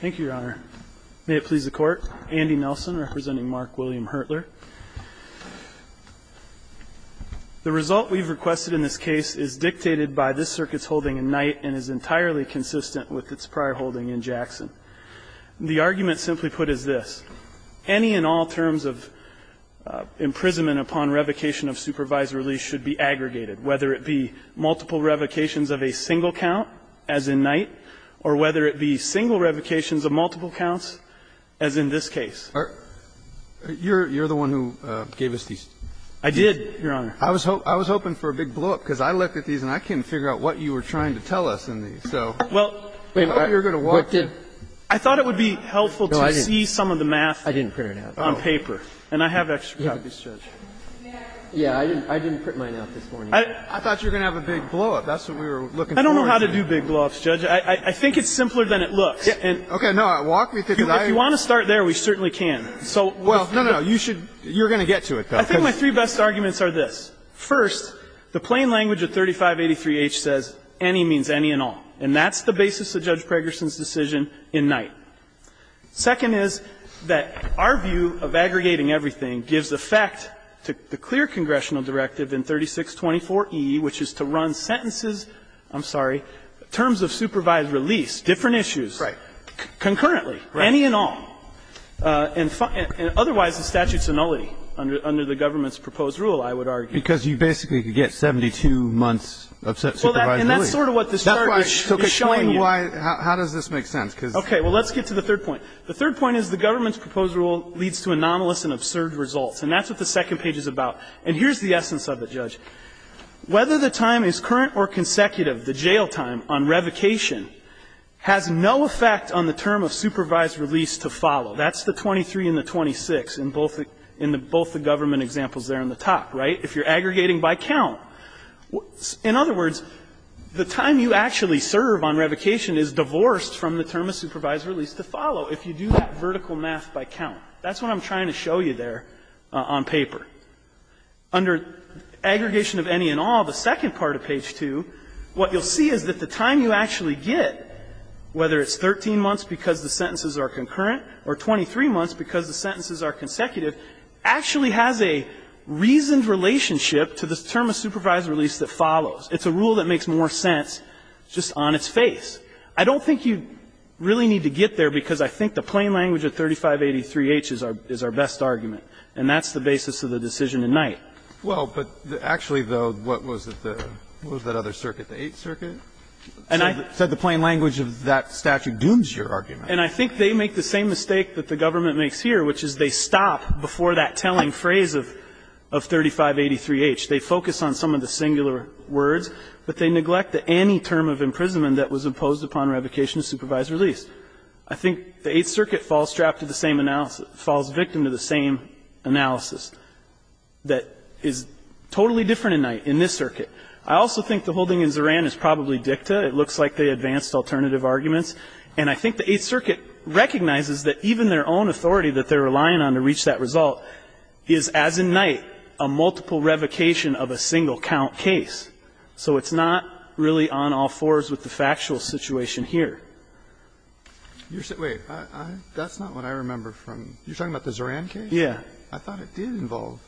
Thank you, Your Honor. May it please the Court, Andy Nelson representing Mark William Hertler. The result we've requested in this case is dictated by this circuit's holding in Knight and is entirely consistent with its prior holding in Jackson. The argument simply put is this. Any and all terms of imprisonment upon revocation of supervised release should be aggregated, whether it be multiple revocations of a single count, as in Knight, or whether it be single revocations of multiple counts, as in this case. Breyer, you're the one who gave us these. I did, Your Honor. I was hoping for a big blowup, because I looked at these and I couldn't figure out what you were trying to tell us in these. So I thought you were going to walk through. I thought it would be helpful to see some of the math on paper, and I have extra copies. Yeah, I didn't print mine out this morning. I thought you were going to have a big blowup. That's what we were looking for. I don't know how to do big blowups, Judge. I think it's simpler than it looks. Okay. No, walk me through. If you want to start there, we certainly can. Well, no, no, you should you're going to get to it, though. I think my three best arguments are this. First, the plain language of 3583H says any means any and all, and that's the basis of Judge Pregerson's decision in Knight. Second is that our view of aggregating everything gives effect to the clear congressional directive in 3624E, which is to run sentences, I'm sorry, terms of supervised release, different issues, concurrently, any and all, and otherwise the statute's annullity under the government's proposed rule, I would argue. Because you basically could get 72 months of supervised annullity. And that's sort of what this charge is showing you. How does this make sense? Okay. Well, let's get to the third point. The third point is the government's proposed rule leads to anomalous and absurd results. And that's what the second page is about. And here's the essence of it, Judge. Whether the time is current or consecutive, the jail time on revocation, has no effect on the term of supervised release to follow. That's the 23 and the 26 in both the government examples there on the top, right? If you're aggregating by count. In other words, the time you actually serve on revocation is divorced from the term of supervised release to follow if you do that vertical math by count. That's what I'm trying to show you there on paper. Under aggregation of any and all, the second part of page 2, what you'll see is that the time you actually get, whether it's 13 months because the sentences are concurrent or 23 months because the sentences are consecutive, actually has a reasoned relationship to the term of supervised release that follows. It's a rule that makes more sense just on its face. I don't think you really need to get there because I think the plain language of 3583H is our best argument. And that's the basis of the decision tonight. Well, but actually, though, what was it, what was that other circuit, the Eighth Circuit, said the plain language of that statute dooms your argument. And I think they make the same mistake that the government makes here, which is they stop before that telling phrase of 3583H. They focus on some of the singular words, but they neglect that any term of imprisonment that was imposed upon revocation is supervised release. I think the Eighth Circuit falls strapped to the same analysis, falls victim to the same analysis that is totally different in this circuit. I also think the holding in Zoran is probably dicta. It looks like they advanced alternative arguments. And I think the Eighth Circuit recognizes that even their own authority that they're relying on to reach that result is, as in Knight, a multiple revocation of a single count case. So it's not really on all fours with the factual situation here. You're saying, wait, that's not what I remember from, you're talking about the Zoran case? Yeah. I thought it did involve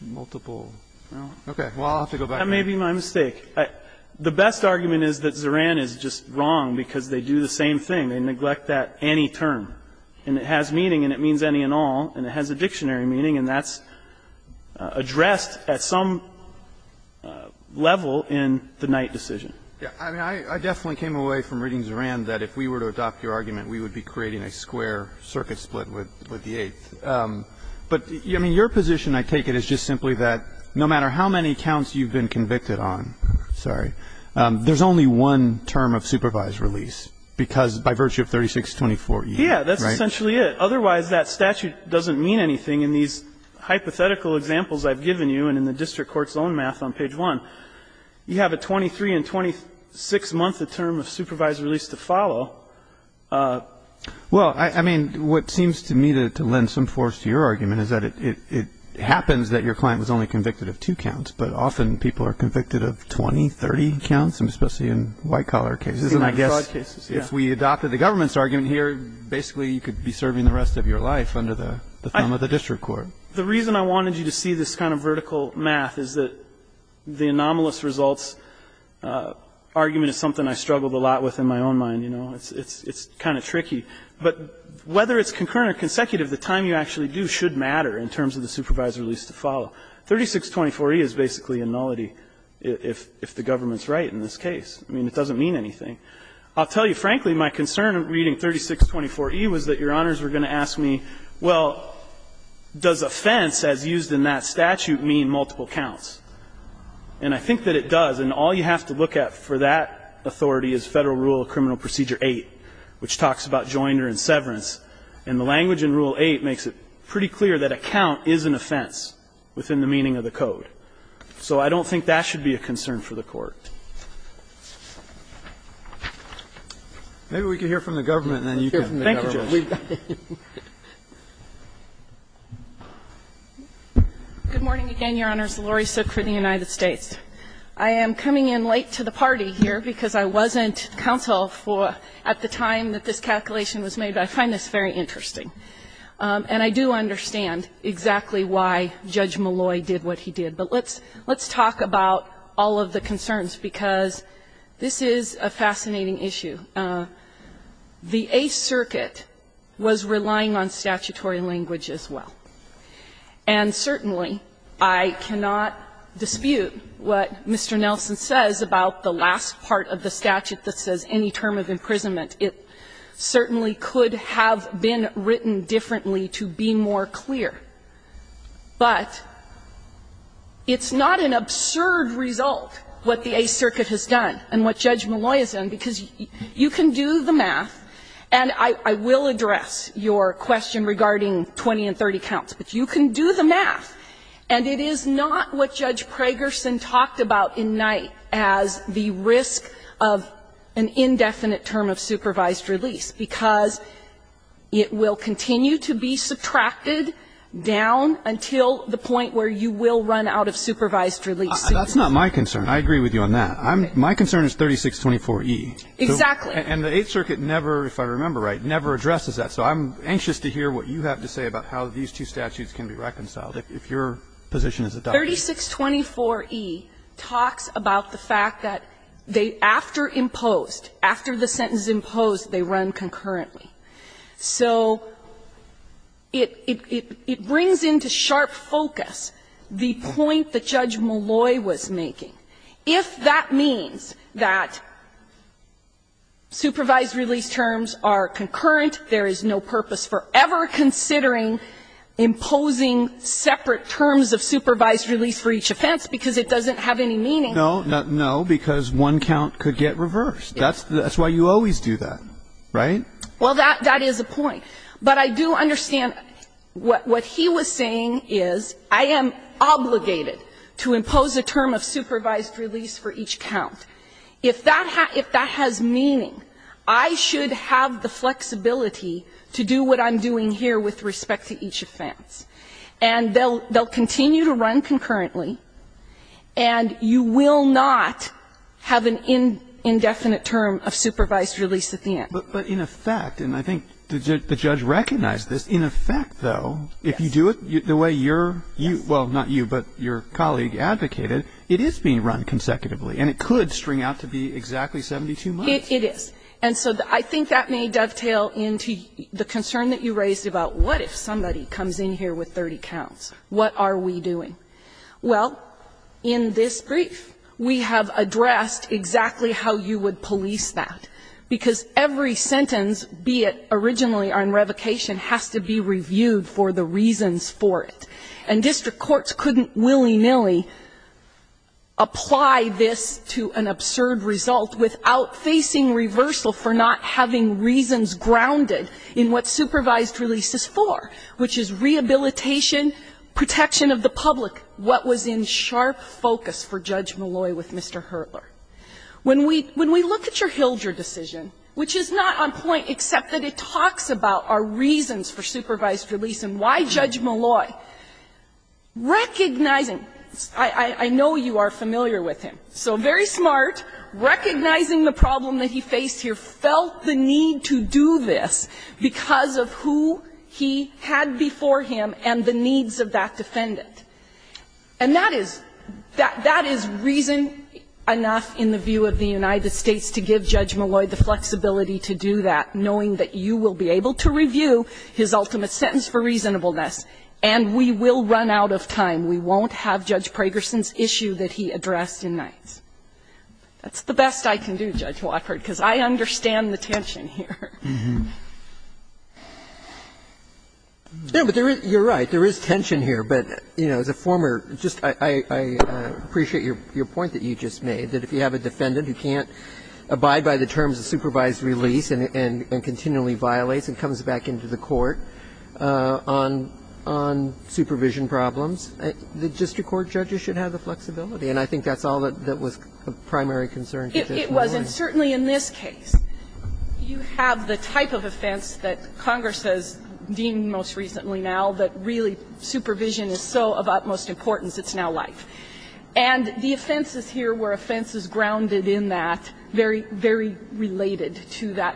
multiple. Okay. Well, I'll have to go back. That may be my mistake. The best argument is that Zoran is just wrong because they do the same thing. They neglect that any term. And it has meaning, and it means any and all, and it has a dictionary meaning. And that's addressed at some level in the Knight decision. Yeah. I mean, I definitely came away from reading Zoran that if we were to adopt your argument, we would be creating a square circuit split with the Eighth. But, I mean, your position, I take it, is just simply that no matter how many counts you've been convicted on, sorry, there's only one term of supervised release because, by virtue of 3624. Yeah, that's essentially it. Otherwise, that statute doesn't mean anything in these hypothetical examples I've given you and in the district court's own math on page one. You have a 23 and 26 month term of supervised release to follow. Well, I mean, what seems to me to lend some force to your argument is that it happens that your client was only convicted of two counts. But often people are convicted of 20, 30 counts, especially in white collar cases. I guess if we adopted the government's argument here, basically you could be serving the rest of your life under the thumb of the district court. The reason I wanted you to see this kind of vertical math is that the anomalous results argument is something I struggled a lot with in my own mind. You know, it's kind of tricky. But whether it's concurrent or consecutive, the time you actually do should matter in terms of the supervised release to follow. 3624E is basically a nullity if the government's right in this case. I mean, it doesn't mean anything. I'll tell you, frankly, my concern in reading 3624E was that Your Honors were going to ask me, well, does offense, as used in that statute, mean multiple counts? And I think that it does, and all you have to look at for that authority is Federal Rule of Criminal Procedure 8, which talks about joinder and severance. And the language in Rule 8 makes it pretty clear that a count is an offense within the meaning of the code. So I don't think that should be a concern for the Court. Maybe we can hear from the government, and then you can. Thank you, Judge. Good morning again, Your Honors. Laurie Sook for the United States. I am coming in late to the party here because I wasn't counsel for at the time that this calculation was made, but I find this very interesting. And I do understand exactly why Judge Malloy did what he did. But let's talk about all of the concerns, because this is a fascinating issue. The Eighth Circuit was relying on statutory language as well. And certainly, I cannot dispute what Mr. Nelson says about the last part of the statute that says any term of imprisonment. It certainly could have been written differently to be more clear. But it's not an absurd result, what the Eighth Circuit has done and what Judge Malloy has done, because you can do the math, and I will address your question regarding 20 and 30 counts, but you can do the math. And it is not what Judge Pragerson talked about in Knight as the risk of an indefinite term of supervised release, because it will continue to be subtracted down until the point where you will run out of supervised release. That's not my concern. I agree with you on that. My concern is 3624E. Exactly. And the Eighth Circuit never, if I remember right, never addresses that. So I'm anxious to hear what you have to say about how these two statutes can be reconciled if your position is adopted. 3624E talks about the fact that they, after imposed, after the sentence imposed, they run concurrently. So it brings into sharp focus the point that Judge Malloy was making. If that means that supervised release terms are concurrent, there is no purpose for ever considering imposing separate terms of supervised release for each offense because it doesn't have any meaning. No, because one count could get reversed. That's why you always do that, right? Well, that is a point. But I do understand what he was saying is I am obligated to impose a term of supervised release for each count. If that has meaning, I should have the flexibility to do what I'm doing here with respect to each offense. And they'll continue to run concurrently, and you will not have an indefinite term of supervised release at the end. But in effect, and I think the judge recognized this, in effect, though, if you do it the way you're you, well, not you, but your colleague advocated, it is being run consecutively. And it could string out to be exactly 72 months. It is. And so I think that may dovetail into the concern that you raised about what if somebody comes in here with 30 counts? What are we doing? Well, in this brief, we have addressed exactly how you would police that, because every sentence, be it originally or in revocation, has to be reviewed for the reasons for it. And district courts couldn't willy-nilly apply this to an absurd result without facing reversal for not having reasons grounded in what supervised release is for, which is rehabilitation, protection of the public, what was in sharp focus for Judge Molloy with Mr. Hertler. When we look at your Hildre decision, which is not on point except that it talks about are reasons for supervised release. And why Judge Molloy? Recognizing, I know you are familiar with him, so very smart, recognizing the problem that he faced here, felt the need to do this because of who he had before him and the needs of that defendant. And that is reason enough in the view of the United States to give Judge Molloy the opportunity to review his ultimate sentence for reasonableness, and we will run out of time. We won't have Judge Pragerson's issue that he addressed in Knights. That's the best I can do, Judge Watford, because I understand the tension here. Roberts, you are right, there is tension here, but, you know, as a former, just I appreciate your point that you just made, that if you have a defendant who can't abide by the the court, on supervision problems, the district court judges should have the flexibility. And I think that's all that was of primary concern to Judge Molloy. It was. And certainly in this case, you have the type of offense that Congress has deemed most recently now that really supervision is so of utmost importance, it's now life. And the offenses here were offenses grounded in that, very, very related to that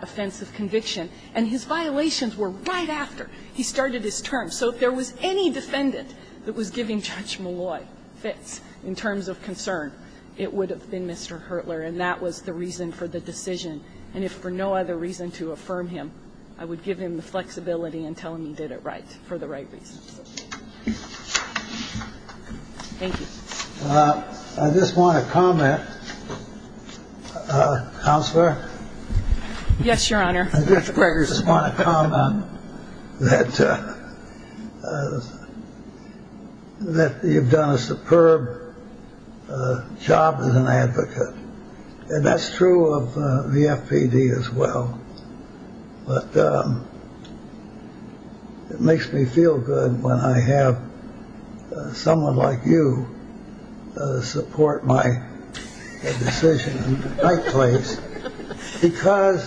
He started his term. So if there was any defendant that was giving Judge Molloy fits in terms of concern, it would have been Mr. Hurtler. And that was the reason for the decision. And if for no other reason to affirm him, I would give him the flexibility and tell him he did it right for the right reasons. Thank you. I just want to comment, Counselor? Yes, Your Honor, Judge Pragerson. I want to comment that you've done a superb job as an advocate. And that's true of the FPD as well. But it makes me feel good when I have someone like you support my decision in the right place. Because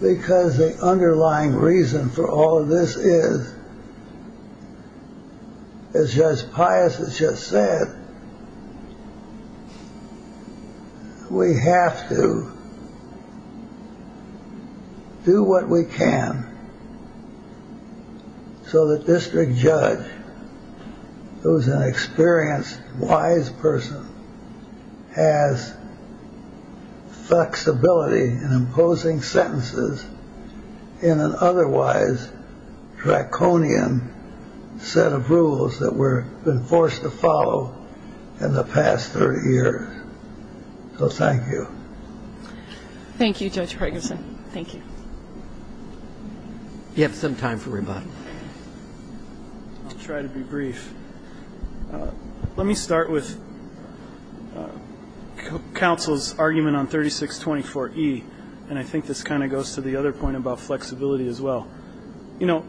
the underlying reason for all of this is, as Judge Pius has just said, we have to do what we can so that District Judge, who's an experienced, wise person, has flexibility in imposing sentences in an otherwise draconian set of rules that we've been forced to follow in the past 30 years. So thank you. Thank you, Judge Pragerson. Thank you. You have some time for rebuttal. I'll try to be brief. Let me start with Counsel's argument on 3624E. And I think this kind of goes to the other point about flexibility as well. You know,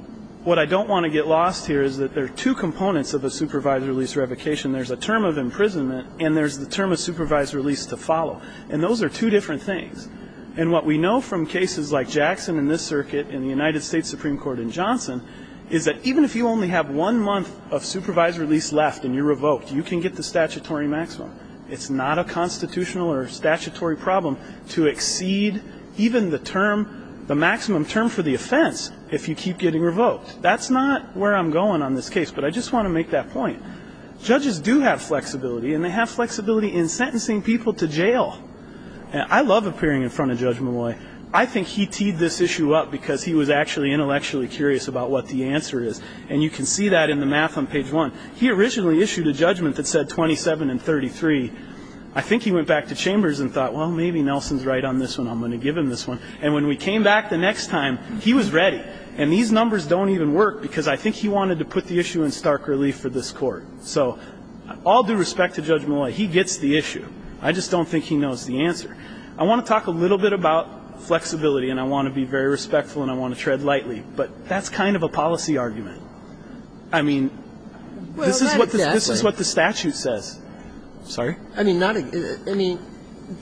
what I don't want to get lost here is that there are two components of a supervised release revocation. There's a term of imprisonment and there's the term of supervised release to follow. And those are two different things. And what we know from cases like Jackson in this circuit and the United States Supreme Court in Johnson is that even if you only have one month of supervised release left and you're revoked, you can get the statutory maximum. It's not a constitutional or statutory problem to exceed even the term, the maximum term for the offense if you keep getting revoked. That's not where I'm going on this case, but I just want to make that point. Judges do have flexibility and they have flexibility in sentencing people to jail. And I love appearing in front of Judge Molloy. I think he teed this issue up because he was actually intellectually curious about what the answer is. And you can see that in the math on page one. He originally issued a judgment that said 27 and 33. I think he went back to Chambers and thought, well, maybe Nelson's right on this one. I'm going to give him this one. And when we came back the next time, he was ready. And these numbers don't even work because I think he wanted to put the issue in stark relief for this court. So all due respect to Judge Molloy, he gets the issue. I just don't think he knows the answer. I want to talk a little bit about flexibility and I want to be very respectful and I want to tread lightly. But that's kind of a policy argument. I mean, this is what the statute says. Sorry? I mean,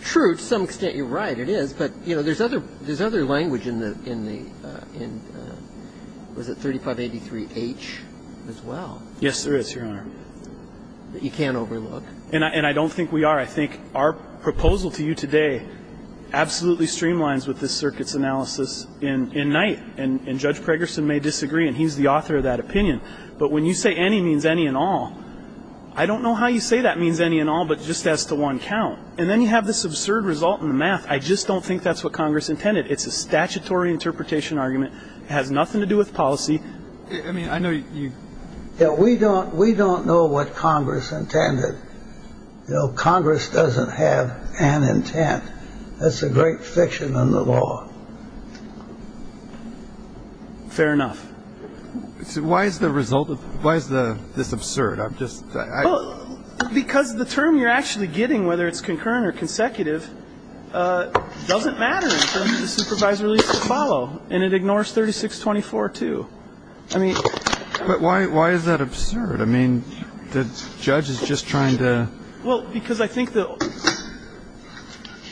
true, to some extent you're right, it is. But there's other language in the, was it 3583H as well? Yes, there is, Your Honor. That you can't overlook. And I don't think we are. I think our proposal to you today absolutely streamlines with this circuit's analysis in Knight. And Judge Pregerson may disagree, and he's the author of that opinion. But when you say any means any and all, I don't know how you say that means any and all, but just as to one count. And then you have this absurd result in the math. I just don't think that's what Congress intended. It's a statutory interpretation argument. It has nothing to do with policy. I mean, I know you. Yeah, we don't know what Congress intended. You know, Congress doesn't have an intent. That's a great fiction in the law. Fair enough. So why is the result of, why is this absurd? I'm just, I. Because the term you're actually getting, whether it's concurrent or consecutive, doesn't matter if the supervisor leaves to follow. And it ignores 3624 too. I mean. But why, why is that absurd? I mean, the judge is just trying to. Well, because I think that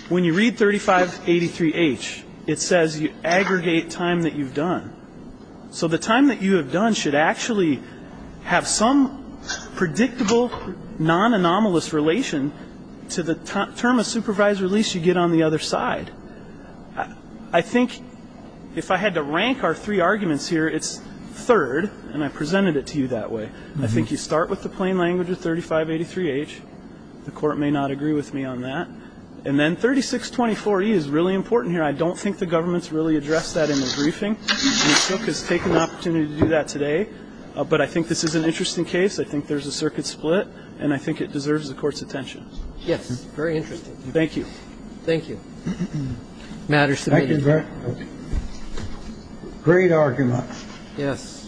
when you read 3583 H, it says you aggregate time that you've done. So the time that you have done should actually have some predictable non anomalous relation to the term of supervisor. At least you get on the other side. I think if I had to rank our three arguments here, it's third. And I presented it to you that way. I think you start with the plain language of 3583 H. The court may not agree with me on that. And then 3624 E is really important here. I don't think the government's really addressed that in the briefing. And it took us, take an opportunity to do that today. But I think this is an interesting case. I think there's a circuit split. And I think it deserves the court's attention. Yes. Very interesting. Thank you. Thank you. Matters to me. Thank you very much. Great argument. Yes.